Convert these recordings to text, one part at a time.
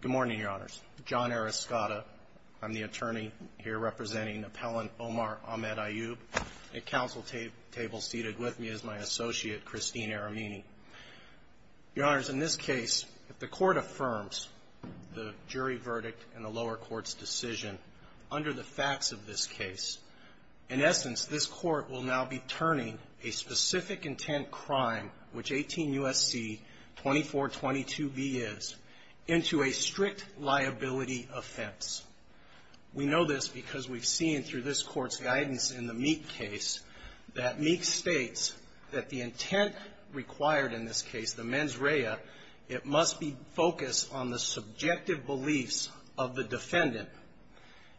Good morning, Your Honors. John Arascotta. I'm the attorney here representing Appellant Omar Ahmed Ayoub. At counsel table seated with me is my associate, Christine Aramini. Your Honors, in this case, if the court affirms the jury verdict and the lower court's decision under the facts of this case, in essence, this court will now be turning a specific intent crime, which 18 U.S.C. 2422B is, into a strict liability offense. We know this because we've seen through this court's guidance in the Meek case that Meek states that the intent required in this case, the mens rea, it must be focused on the subjective beliefs of the defendant.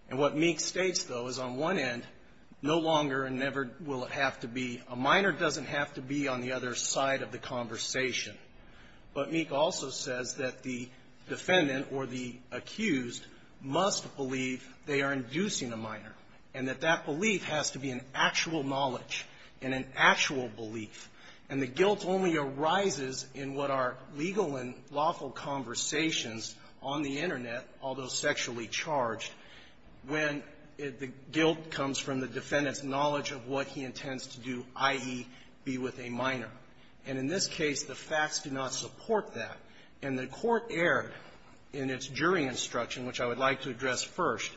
And what Meek states, though, is on one end, no longer and never will it have to be on the other side of the conversation. But Meek also says that the defendant, or the accused, must believe they are inducing a minor, and that that belief has to be an actual knowledge, and an actual belief. And the guilt only arises in what are legal and lawful conversations on the Internet, although sexually charged, when the guilt comes from the defendant's knowledge of what he intends to do, i.e., be with a minor. And in this case, the facts do not support that. And the court erred in its jury instruction, which I would like to address first.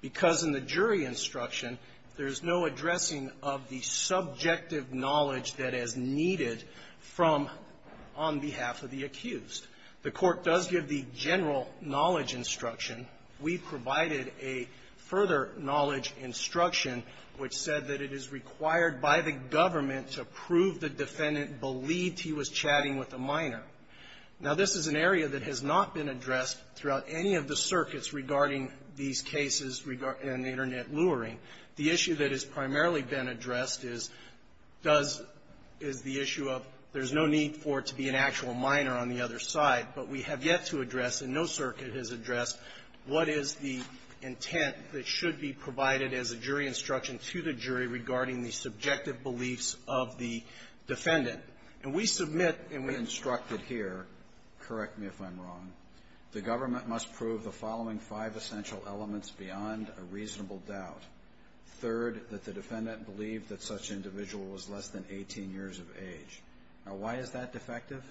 Because in the jury instruction, there's no addressing of the subjective knowledge that is needed from on behalf of the accused. The court does give the general knowledge instruction. We provided a further knowledge instruction which said that it is required by the government to prove the defendant believed he was chatting with a minor. Now, this is an area that has not been addressed throughout any of the circuits regarding these cases in Internet luring. The issue that has primarily been addressed is, does the issue of there's no need for it to be an actual minor on the other side. But we have yet to address, and no circuit has addressed, what is the intent that should be provided as a jury instruction to the jury regarding the subjective beliefs of the defendant. And we submit and we instructed here, correct me if I'm wrong, the government must prove the following five essential elements beyond a reasonable doubt. Third, that the defendant believed that such an individual was less than 18 years of age. Now, why is that defective?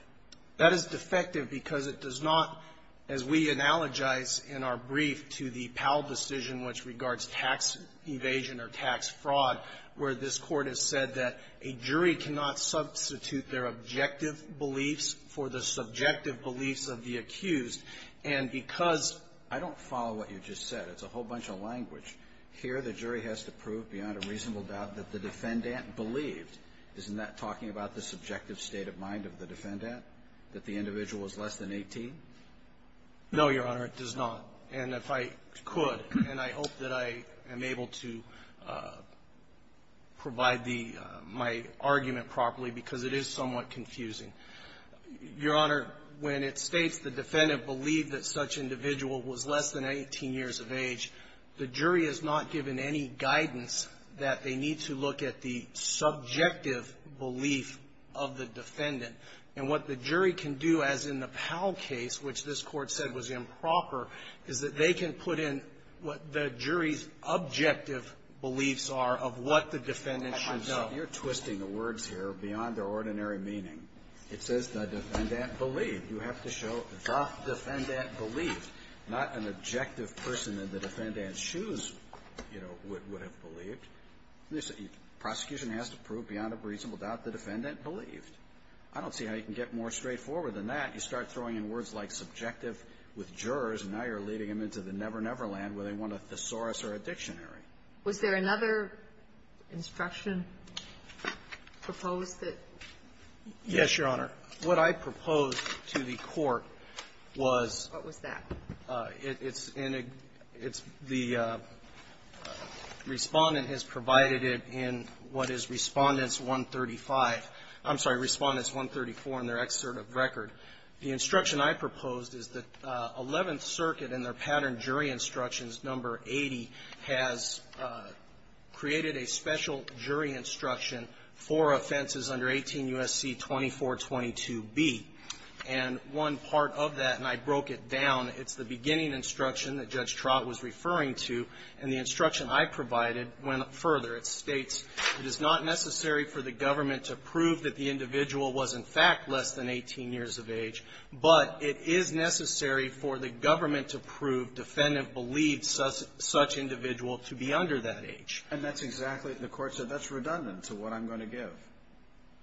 That is defective because it does not, as we analogize in our brief to the Powell decision which regards tax evasion or tax fraud, where this Court has said that a jury cannot substitute their objective beliefs for the subjective beliefs of the accused. And because I don't follow what you just said. It's a whole bunch of language. Here the jury has to prove beyond a reasonable doubt that the defendant believed. Isn't that talking about the subjective state of mind of the defendant? That the individual was less than 18? No, Your Honor, it does not. And if I could, and I hope that I am able to provide the, my argument properly because it is somewhat confusing. Your Honor, when it states the defendant believed that such individual was less than 18 years of age, the jury has not given any guidance that they need to look at the subjective belief of the defendant. And what the jury can do, as in the Powell case, which this Court said was improper, is that they can put in what the jury's objective beliefs are of what the defendant should know. You're twisting the words here beyond their ordinary meaning. It says the defendant believed. You have to show the defendant believed, not an objective person that the defendant in a man's shoes, you know, would have believed. Prosecution has to prove beyond a reasonable doubt the defendant believed. I don't see how you can get more straightforward than that. You start throwing in words like subjective with jurors, and now you're leading them into the never-never land where they want a thesaurus or a dictionary. Was there another instruction proposed that you could? Yes, Your Honor. What I proposed to the Court was What was that? It's in a It's the Respondent has provided it in what is Respondents 135. I'm sorry, Respondents 134 in their excerpt of record. The instruction I proposed is that Eleventh Circuit in their pattern jury instructions, number 80, has created a special jury instruction for offenses under 18 U.S.C. 2422b. And one part of that, and I broke it down, it's the beginning instruction that Judge Trott was referring to, and the instruction I provided went further. It states, It is not necessary for the government to prove that the individual was, in fact, less than 18 years of age, but it is necessary for the government to prove defendant believed such individual to be under that age. And that's exactly what the Court said. That's redundant to what I'm going to give.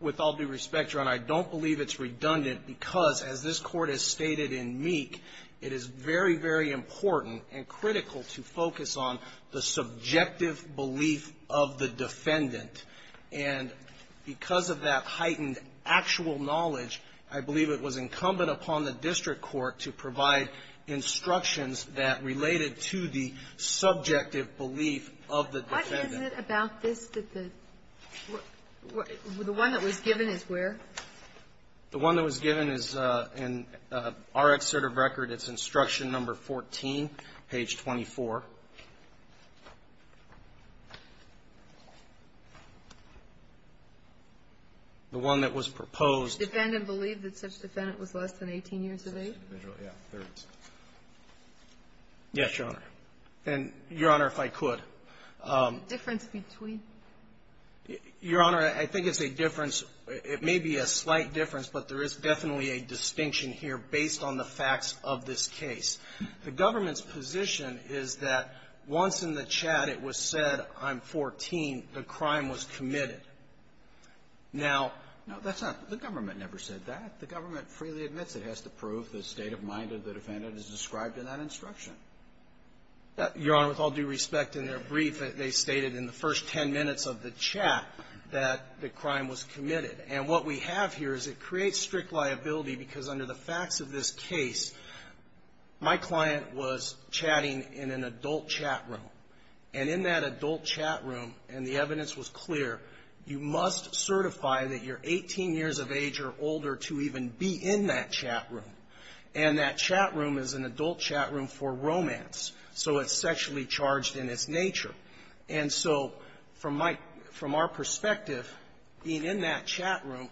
With all due respect, Your Honor, I don't believe it's redundant because, as this Court has stated in Meek, it is very, very important and critical to focus on the subjective belief of the defendant. And because of that heightened actual knowledge, I believe it was incumbent upon the district court to provide instructions that related to the subjective belief of the defendant. Isn't it about this that the one that was given is where? The one that was given is in our excerpt of record. It's instruction number 14, page 24. The one that was proposed. The defendant believed that such defendant was less than 18 years of age? Individually, yeah, 30. Yes, Your Honor. And, Your Honor, if I could. Difference between? Your Honor, I think it's a difference. It may be a slight difference, but there is definitely a distinction here based on the facts of this case. The government's position is that once in the chat it was said, I'm 14, the crime was committed. Now, no, that's not the government never said that. The government freely admits it has to prove the state of mind of the defendant is described in that instruction. Your Honor, with all due respect, in their brief they stated in the first 10 minutes of the chat that the crime was committed. And what we have here is it creates strict liability because under the facts of this case, my client was chatting in an adult chat room. And in that adult chat room, and the evidence was clear, you must certify that you're 18 years of age or older to even be in that chat room. And that chat room is an adult chat room for romance. So it's sexually charged in its nature. And so from my – from our perspective, being in that chat room,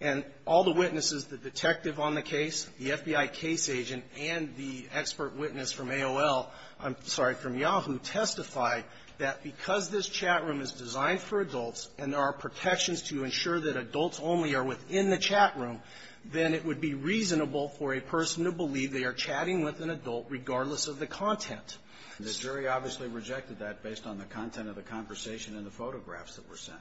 and all the witnesses, the detective on the case, the FBI case agent, and the expert witness from AOL – I'm sorry, from Yahoo – testified that because this chat room is designed for adults and there are protections to ensure that adults only are within the chat room, then it would be reasonable for a person to believe they are chatting with an adult regardless of the content. And the jury obviously rejected that based on the content of the conversation and the photographs that were sent.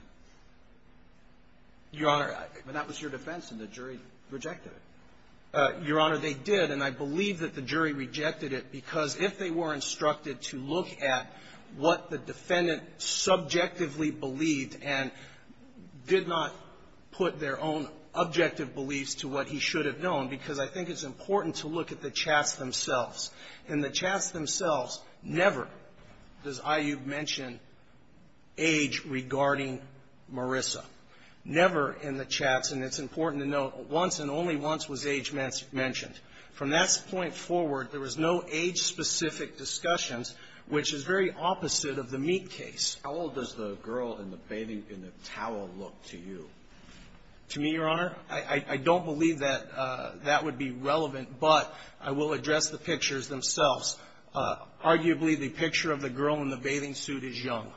Your Honor, I – But that was your defense, and the jury rejected it. Your Honor, they did, and I believe that the jury rejected it because if they were instructed to look at what the defendant subjectively believed and did not put their own objective beliefs to what he should have known, because I think it's important to look at the chats themselves. In the chats themselves, never does IU mention age regarding Marissa. Never in the chats, and it's important to note, once and only once was age mentioned. From that point forward, there was no age-specific discussions, which is very opposite of the Meek case. How old does the girl in the bathing – in the towel look to you? To me, Your Honor, I don't believe that that would be relevant, but I will address the pictures themselves. Arguably, the picture of the girl in the bathing suit is young.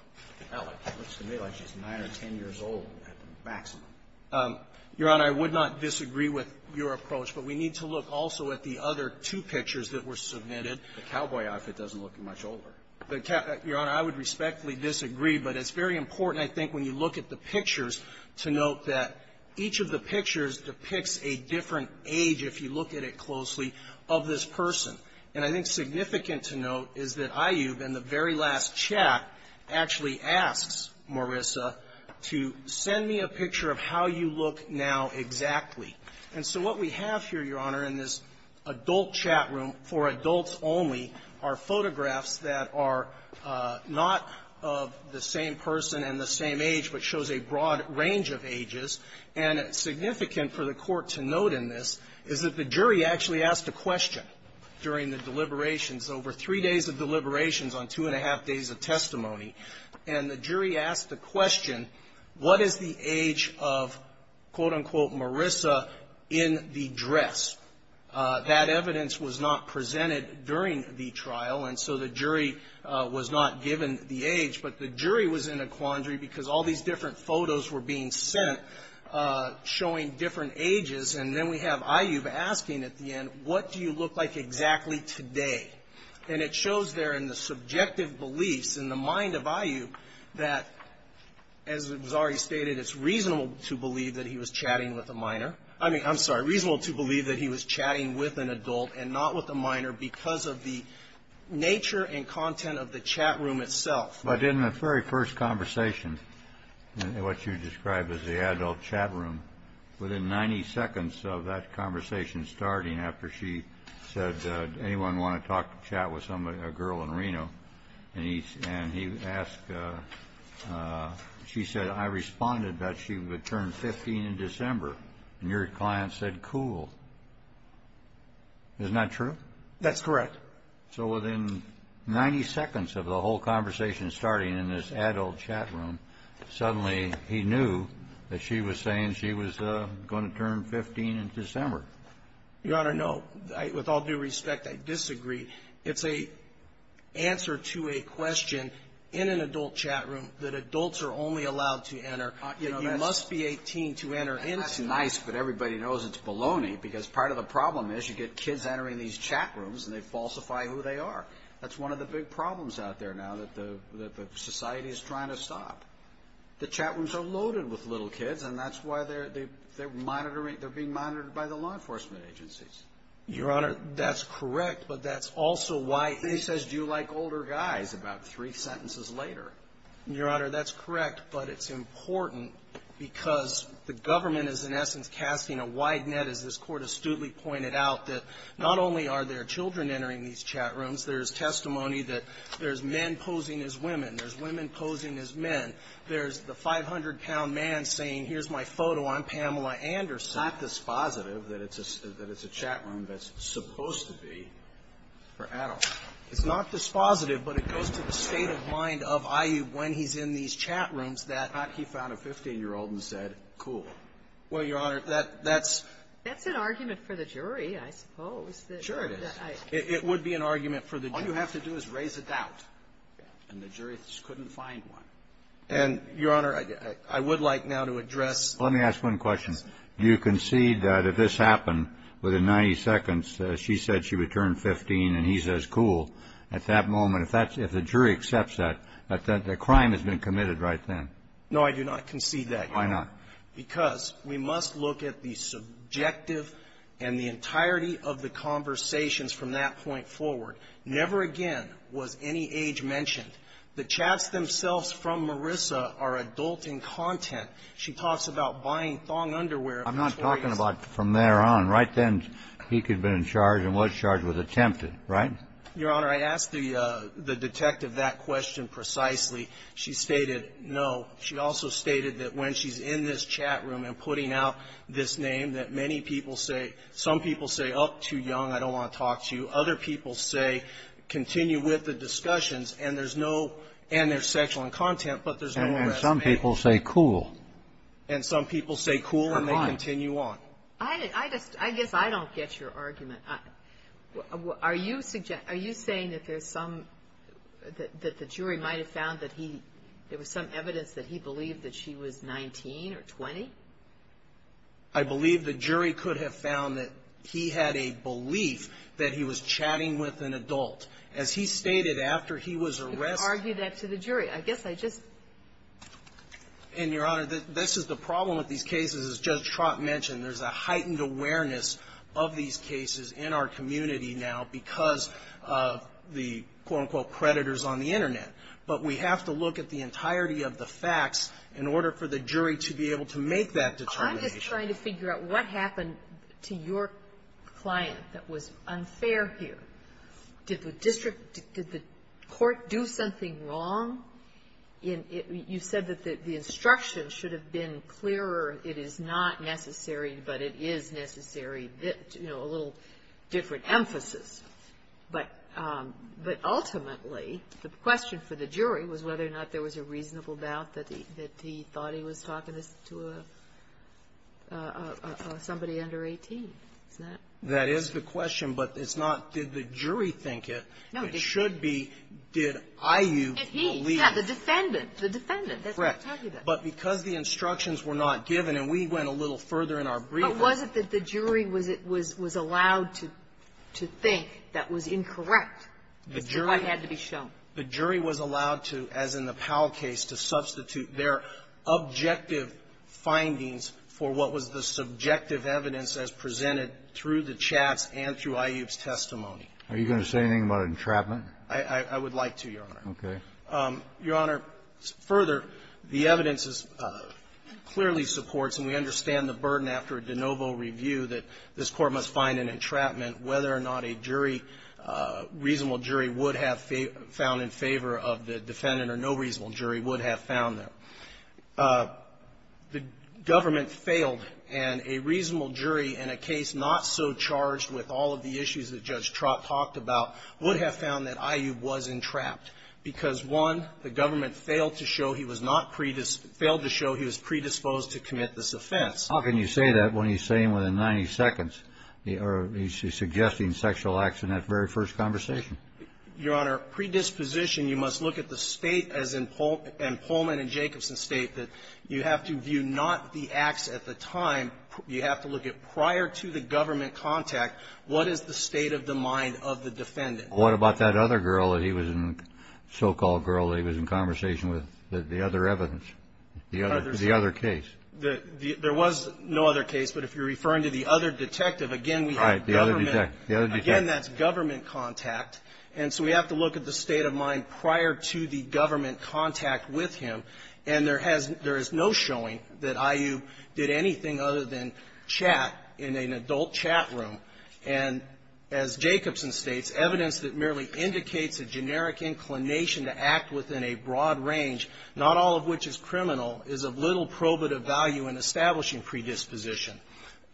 That looks to me like she's 9 or 10 years old at the maximum. Your Honor, I would not disagree with your approach, but we need to look also at the other two pictures that were submitted. The cowboy outfit doesn't look much older. Your Honor, I would respectfully disagree, but it's very important, I think, when you look at the pictures, to note that each of the pictures depicts a different age, if you look at it closely, of this person. And I think significant to note is that IU, in the very last chat, actually asks Marissa to send me a picture of how you look now exactly. And so what we have here, Your Honor, in this adult chat room, for adults only, are photographs that are not of the same person and the same age, but shows a broad range of ages. And significant for the Court to note in this is that the jury actually asked a question during the deliberations, over three days of deliberations on two and a half days of testimony, and the jury asked the question, what is the age of, quote, unquote, Marissa in the dress? That evidence was not presented during the trial, and so the jury was not given the age, but the jury was in a quandary because all these different photos were being sent showing different ages. And then we have IU asking at the end, what do you look like exactly today? And it shows there in the subjective beliefs, in the mind of IU, that, as was already stated, it's reasonable to believe that he was chatting with a minor. I mean, I'm sorry, reasonable to believe that he was chatting with an adult and not with a minor because of the nature and content of the chat room itself. But in the very first conversation, what you described as the adult chat room, within 90 seconds of that conversation starting, after she said, anyone want to talk, chat with somebody, a girl in Reno? And he asked, she said, I responded that she would turn 15 in December. And your client said, cool. Isn't that true? That's correct. So within 90 seconds of the whole conversation starting in this adult chat room, suddenly he knew that she was saying she was going to turn 15 in December. Your Honor, no. With all due respect, I disagree. It's an answer to a question in an adult chat room that adults are only allowed to enter. You must be 18 to enter into. That's nice, but everybody knows it's baloney because part of the problem is you get kids entering these chat rooms and they falsify who they are. That's one of the big problems out there now that the society is trying to stop. The chat rooms are loaded with little kids and that's why they're being monitored by the law enforcement agencies. Your Honor, that's correct, but that's also why he says, do you like older guys, about three sentences later. Your Honor, that's correct, but it's important because the government is in essence casting a wide net, as this Court astutely pointed out, that not only are there children entering these chat rooms, there's testimony that there's men posing as women, there's women posing as men. There's the 500-pound man saying, here's my photo, I'm Pamela Anderson. It's not dispositive that it's a chat room that's supposed to be for adults. It's not dispositive, but it goes to the state of mind of IU when he's in these chat rooms that he found a 15-year-old and said, cool. Well, Your Honor, that's... That's an argument for the jury, I suppose. Sure it is. It would be an argument for the jury. All you have to do is raise a doubt. And the jury just couldn't find one. And, Your Honor, I would like now to address... Let me ask one question. You concede that if this happened within 90 seconds, she said she would turn 15 and he says, cool, at that moment, if that's the jury accepts that, that the crime has been committed right then? No, I do not concede that, Your Honor. Why not? Because we must look at the subjective and the entirety of the conversations from that point forward. Never again was any age mentioned. The chats themselves from Marissa are adulting content. She talks about buying thong underwear... I'm not talking about from there on. Right then, he could have been charged and was charged with attempted, right? Your Honor, I asked the detective that question precisely. She stated no. She also stated that when she's in this chat room and putting out this name, that many people say, some people say, oh, too young, I don't want to talk to you. Other people say, continue with the discussions. And there's no, and there's sexual content, but there's no arrest. And some people say cool. And some people say cool and they continue on. I just, I guess I don't get your argument. Are you suggesting, are you saying that there's some, that the jury might have found that he, there was some evidence that he believed that she was 19 or 20? I believe the jury could have found that he had a belief that he was chatting with an adult. As he stated, after he was arrested... You could argue that to the jury. I guess I just... And, Your Honor, this is the problem with these cases, as Judge Trott mentioned, there's a heightened awareness of these cases in our community now because of the, quote-unquote, creditors on the Internet. But we have to look at the entirety of the facts in order for the jury to be able to make that determination. I'm just trying to figure out what happened to your client that was unfair here. Did the district, did the court do something wrong? You said that the instruction should have been clearer. It is not necessary, but it is necessary, you know, a little different emphasis. But ultimately, the question for the jury was whether or not there was a reasonable doubt that he thought he was talking to somebody under 18. Isn't that... That is the question, but it's not, did the jury think it? No. It should be, did IU believe... And he, yeah, the defendant. The defendant. Correct. That's what I'm talking about. But because the instructions were not given, and we went a little further in our briefing... But was it that the jury was allowed to think that was incorrect? The jury... I had to be shown. The jury was allowed to, as in the Powell case, to substitute their objective findings for what was the subjective evidence as presented through the chats and through IU's testimony. Are you going to say anything about entrapment? I would like to, Your Honor. Okay. Your Honor, further, the evidence clearly supports and we understand the burden after a de novo review that this Court must find an entrapment, whether or not a jury, reasonable jury, would have found in favor of the defendant or no reasonable jury would have found them. The government failed, and a reasonable jury in a case not so charged with all of the issues that Judge Trott talked about would have found that IU was entrapped because, one, the government failed to show he was not predisposed to commit this offense. How can you say that when he's saying within 90 seconds, or he's suggesting sexual acts in that very first conversation? Your Honor, predisposition, you must look at the state as in Pullman and Jacobson state that you have to view not the acts at the time, you have to look at prior to the government contact, what is the state of the mind of the defendant? What about that other girl that he was in, so-called girl that he was in conversation with, the other evidence, the other case? There was no other case, but if you're referring to the other detective, again, we have government. Right, the other detective. Again, that's government contact, and so we have to look at the state of mind prior to the government contact with him, and there is no showing that IU did anything other than chat in an adult chat room. And as Jacobson states, evidence that merely indicates a generic inclination to act within a broad range, not all of which is criminal, is of little probative value in establishing predisposition.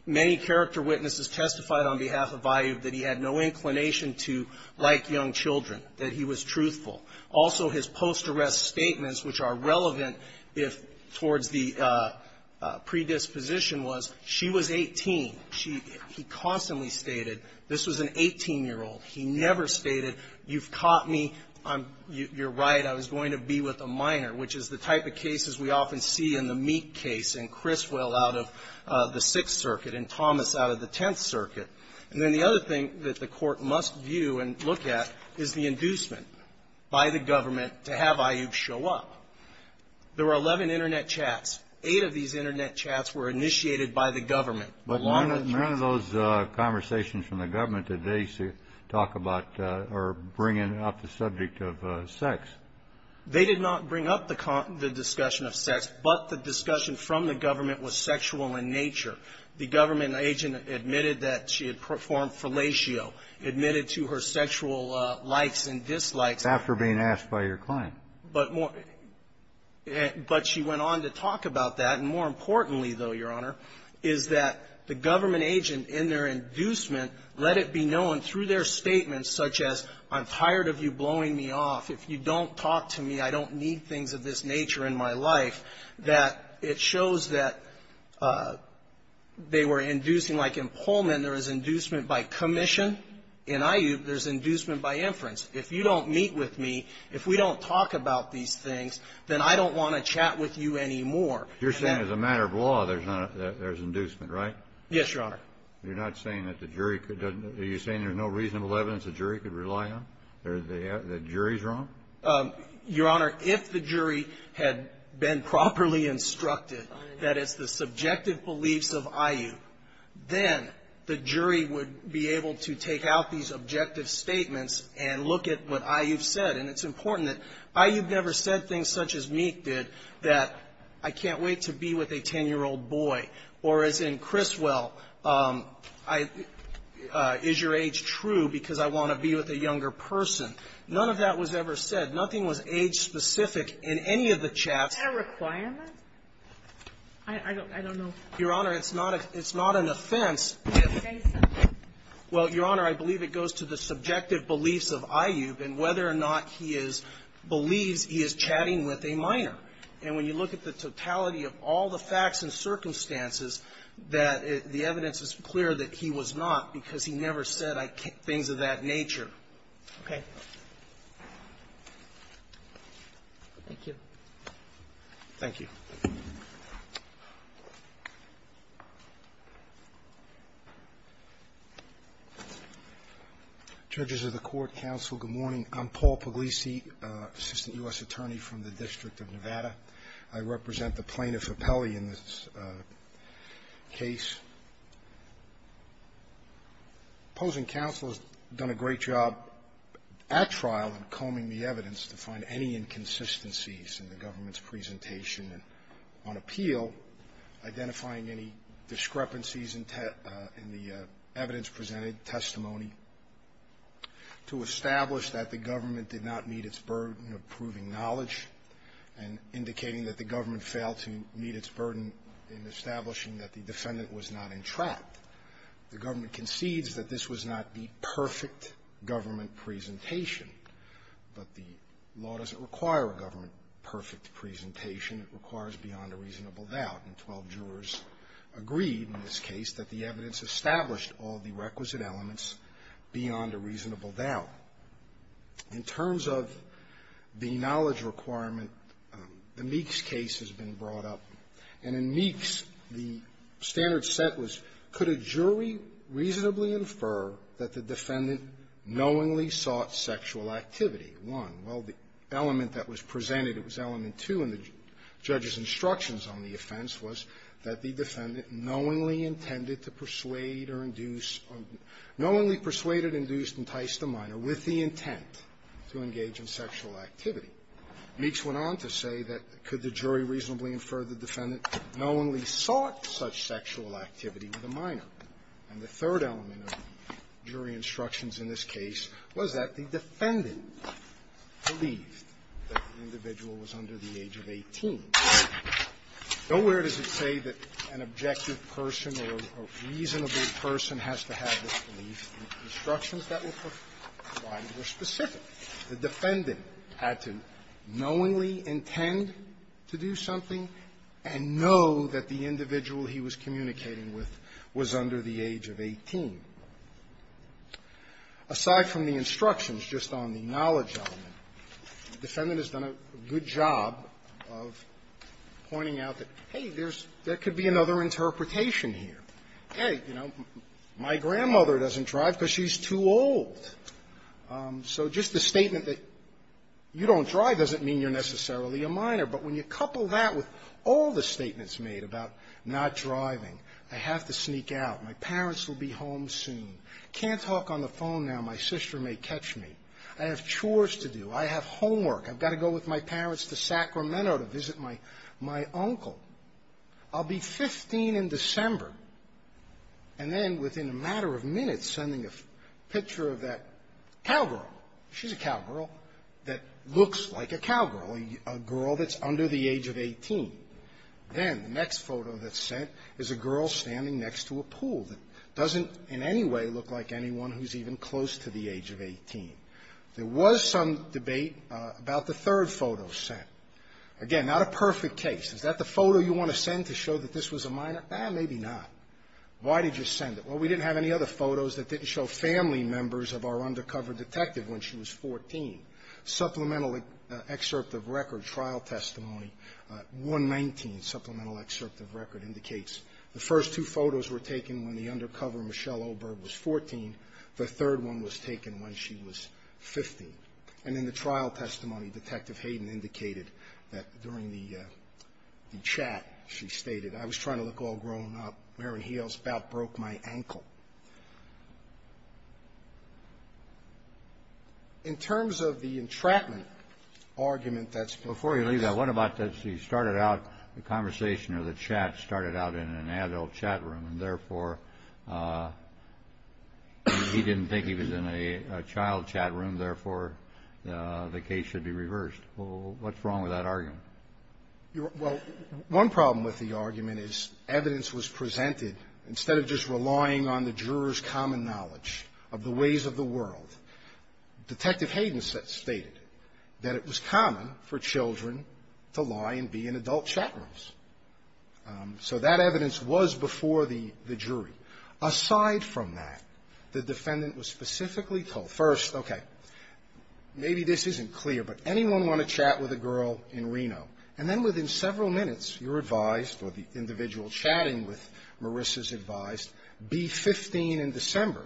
Many character witnesses testified on behalf of IU that he had no inclination to like young children, that he was truthful. Also, his post-arrest statements, which are relevant if towards the predisposition was, she was 18. He constantly stated, this was an 18-year-old. He never stated, you've caught me, you're right, I was going to be with a minor, which is the type of cases we often see in the Meek case and Criswell out of the Sixth Circuit and Thomas out of the Tenth Circuit. And then the other thing that the court must view and look at is the inducement by the government to have IU show up. There were 11 Internet chats. Eight of these Internet chats were initiated by the government. None of those conversations from the government did they talk about or bring up the subject of sex. They did not bring up the discussion of sex, but the discussion from the government was sexual in nature. The government agent admitted that she had performed fellatio, admitted to her sexual likes and dislikes. After being asked by your client. But she went on to talk about that. And more importantly, though, Your Honor, is that the government agent in their inducement, let it be known through their statements such as, I'm tired of you blowing me off, if you don't talk to me, I don't need things of this nature in my life, that it shows that they were inducing, like in Pullman, there was inducement by commission. In IU, there's inducement by inference. If you don't meet with me, if we don't talk about these things, then I don't want to chat with you anymore. You're saying as a matter of law, there's inducement, right? Yes, Your Honor. You're not saying that the jury could, are you saying there's no reasonable evidence the jury could rely on? That the jury's wrong? Your Honor, if the jury had been properly instructed that it's the subjective beliefs of IU, then the jury would be able to take out these objective statements and look at what IU said. And it's important that IU never said things such as Meek did, that I can't wait to be with a 10-year-old boy. Or as in Criswell, is your age true because I want to be with a younger person? None of that was ever said. Nothing was age-specific in any of the chats. Is that a requirement? I don't know. Your Honor, it's not an offense. Well, Your Honor, I believe it goes to the subjective beliefs of IU and whether or not he is, believes he is chatting with a minor. And when you look at the totality of all the facts and circumstances, that the evidence is clear that he was not because he never said things of that nature. Okay. Thank you. Thank you. Paul Puglisi. Judges of the Court, counsel, good morning. I'm Paul Puglisi, Assistant U.S. Attorney from the District of Nevada. I represent the plaintiff, Appelli, in this case. Opposing counsel has done a great job at trial in combing the evidence to find any inconsistencies in the government's presentation on appeal, identifying any discrepancies in the evidence presented, testimony, to establish that the government did not meet its burden of proving knowledge and indicating that the government failed to meet its burden in establishing that the defendant was not entrapped. The government concedes that this was not the perfect government presentation, but the law doesn't require a government perfect presentation. It requires beyond a reasonable doubt. And 12 jurors agreed in this case that the evidence established all the requisite elements beyond a reasonable doubt. In terms of the knowledge requirement, the Meeks case has been brought up. And in Meeks, the standard set was, could a jury reasonably infer that the defendant knowingly sought sexual activity, one? Well, the element that was presented, it was element two in the judge's instructions on the offense, was that the defendant knowingly intended to persuade or induce or knowingly persuaded, induced, enticed a minor with the intent to engage in sexual activity. Meeks went on to say that could the jury reasonably infer the defendant knowingly sought such sexual activity with a minor? And the third element of jury instructions in this case was that the defendant believed that the individual was under the age of 18. Nowhere does it say that an objective person or a reasonable person has to have this belief. The instructions that were provided were specific. The defendant had to knowingly intend to do something and know that the individual he was communicating with was under the age of 18. Aside from the instructions, just on the knowledge element, the defendant has done a good job of pointing out that, hey, there's – there could be another interpretation here. Hey, you know, my grandmother doesn't drive because she's too old. So just the statement that you don't drive doesn't mean you're necessarily a minor. But when you couple that with all the statements made about not driving, I have to sneak out, my parents will be home soon, can't talk on the phone now, my sister may catch me, I have chores to do, I have homework, I've got to go with my parents to Sacramento to visit my – my uncle, I'll be 15 in December, and then within a matter of minutes, sending a picture of that cowgirl, she's a cowgirl, that looks like a cowgirl, a girl that's under the age of 18. Then the next photo that's sent is a girl standing next to a pool that doesn't in any way look like anyone who's even close to the age of 18. There was some debate about the third photo sent. Again, I have to sneak Again, not a perfect case. Is that the photo you want to send to show that this was a minor? Eh, maybe not. Why did you send it? Well, we didn't have any other photos that didn't show family members of our undercover detective when she was 14. Supplemental excerpt of record, trial testimony, 119 supplemental excerpt of record indicates the first two photos were taken when the undercover Michelle Oberg was 14. The third one was taken when she was 15. And in the trial testimony, Detective Hayden indicated that during the chat, she stated, I was trying to look all grown up, wearing heels, about broke my ankle. In terms of the entrapment argument that's been – Before you leave that, what about that she started out, the conversation or the chat started out in an adult chat room, and therefore, he didn't think he was in a child chat room, therefore, the case should be reversed. What's wrong with that argument? Well, one problem with the argument is evidence was presented, instead of just relying on the juror's common knowledge of the ways of the world, Detective Hayden stated that it was common for children to lie and be in adult chat rooms. So that evidence was before the jury. Aside from that, the defendant was specifically told, first, okay, maybe this isn't clear, but anyone want to chat with a girl in Reno, and then within several minutes, you're advised, or the individual chatting with Marissa is advised, be 15 in December,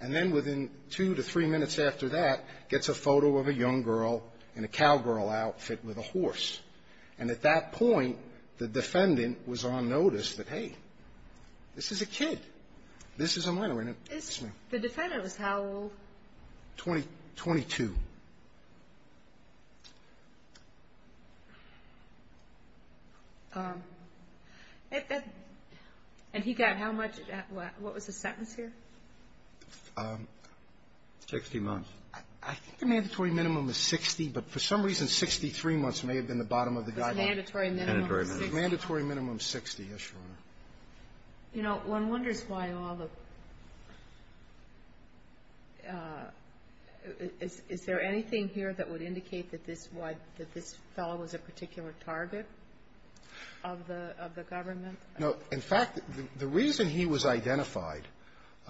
and then within two to three minutes after that, gets a photo of a young girl in a cowgirl outfit with a horse. And at that point, the defendant was on notice that, hey, this is a kid. This is a minor, isn't it? The defendant was how old? Twenty-two. And he got how much? What was the sentence here? Sixty months. I think the mandatory minimum is 60, but for some reason, 63 months may have been the bottom of the guideline. Mandatory minimum is 60. Mandatory minimum is 60, yes, Your Honor. You know, one wonders why all the – is there anything here that would indicate that this was – that this fellow was a particular target of the government? No. In fact, the reason he was identified,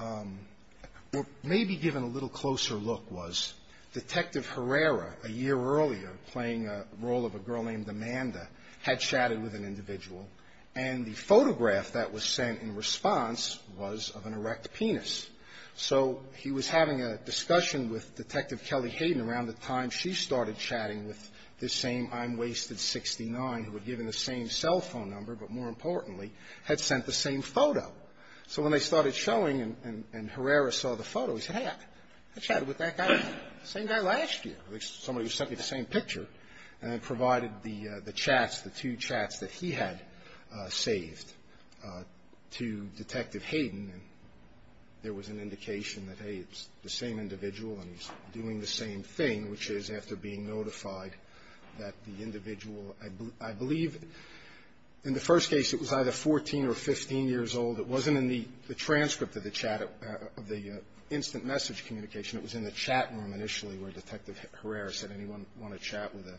or maybe given a little closer look, was Detective Herrera, a year earlier, playing a role of a girl named Amanda, had chatted with an individual, and the photograph that was sent in response was of an erect penis. So he was having a discussion with Detective Kelly Hayden around the time she started chatting with this same I'm Wasted 69, who had given the same cell phone number, but more importantly, had sent the same photo. So when they started showing and Herrera saw the photo, he said, hey, I chatted with that guy, same guy last year, somebody who sent me the same picture, and then provided the chats, the two chats that he had saved to Detective Hayden, and there was an indication that, hey, it's the same individual and he's doing the same thing, which is, after being notified, that the individual – I believe, in the first case, it was either 14 or 15 years old. It wasn't in the transcript of the chat – of the instant message communication. It was in the chat room, initially, where Detective Herrera said, anyone want to chat with a,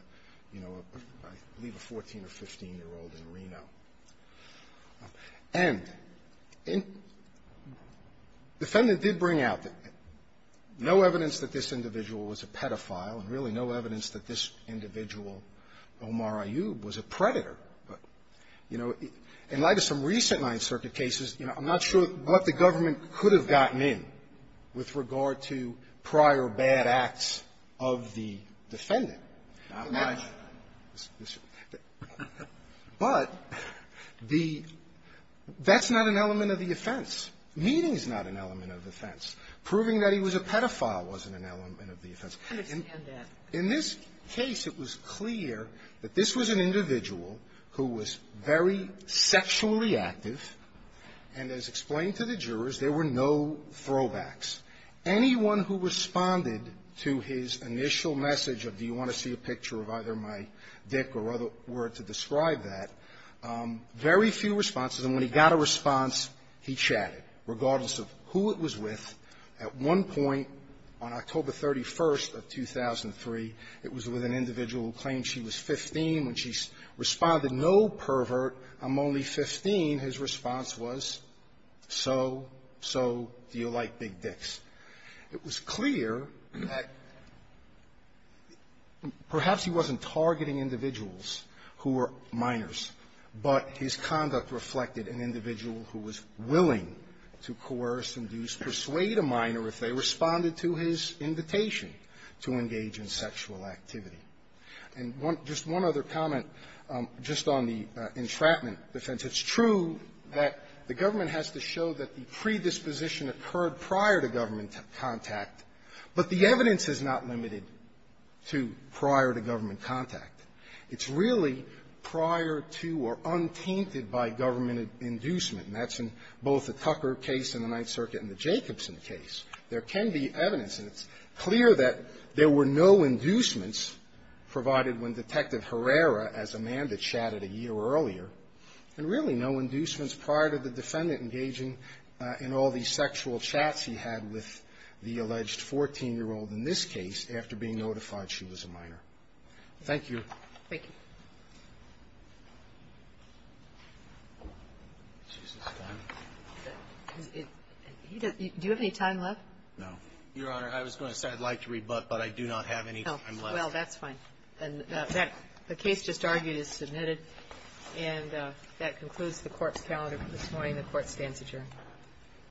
you know, I believe a 14 or 15-year-old in Reno? And defendant did bring out that no evidence that this individual was a pedophile and really no evidence that this individual, Omar Ayyub, was a predator. But, you know, in light of some recent Ninth Circuit cases, you know, I'm not sure what the government could have gotten in with regard to prior bad acts of the defendant. But the – that's not an element of the offense. Meaning is not an element of the offense. Proving that he was a pedophile wasn't an element of the offense. In this case, it was clear that this was an individual who was very sexually active, and, as explained to the jurors, there were no throwbacks. Anyone who responded to his initial message of, do you want to see a picture of either my dick or other word to describe that, very few responses. And when he got a response, he chatted. Regardless of who it was with, at one point on October 31st of 2003, it was with an individual who claimed she was 15. When she responded, no, pervert, I'm only 15, his response was, so, so, do you like big dicks? It was clear that this was an individual who was – perhaps he wasn't targeting individuals who were minors, but his conduct reflected an individual who was willing to coerce, induce, persuade a minor if they responded to his invitation to engage in sexual activity. And one – just one other comment, just on the entrapment defense. It's true that the government has to show that the predisposition occurred prior to government contact, but the evidence is not limited to prior to government contact. It's really prior to or untainted by government inducement. And that's in both the Tucker case in the Ninth Circuit and the Jacobson case. There can be evidence, and it's clear that there were no inducements, provided when Detective Herrera, as Amanda chatted a year earlier, and really no inducements prior to the defendant engaging in all these sexual chats he had with the alleged 14-year-old in this case after being notified she was a minor. Thank you. Thank you. Do you have any time left? No. Your Honor, I was going to say I'd like to rebut, but I do not have any time left. Well, that's fine. And that case just argued is submitted. And that concludes the Court's calendar for this morning. The Court stands adjourned.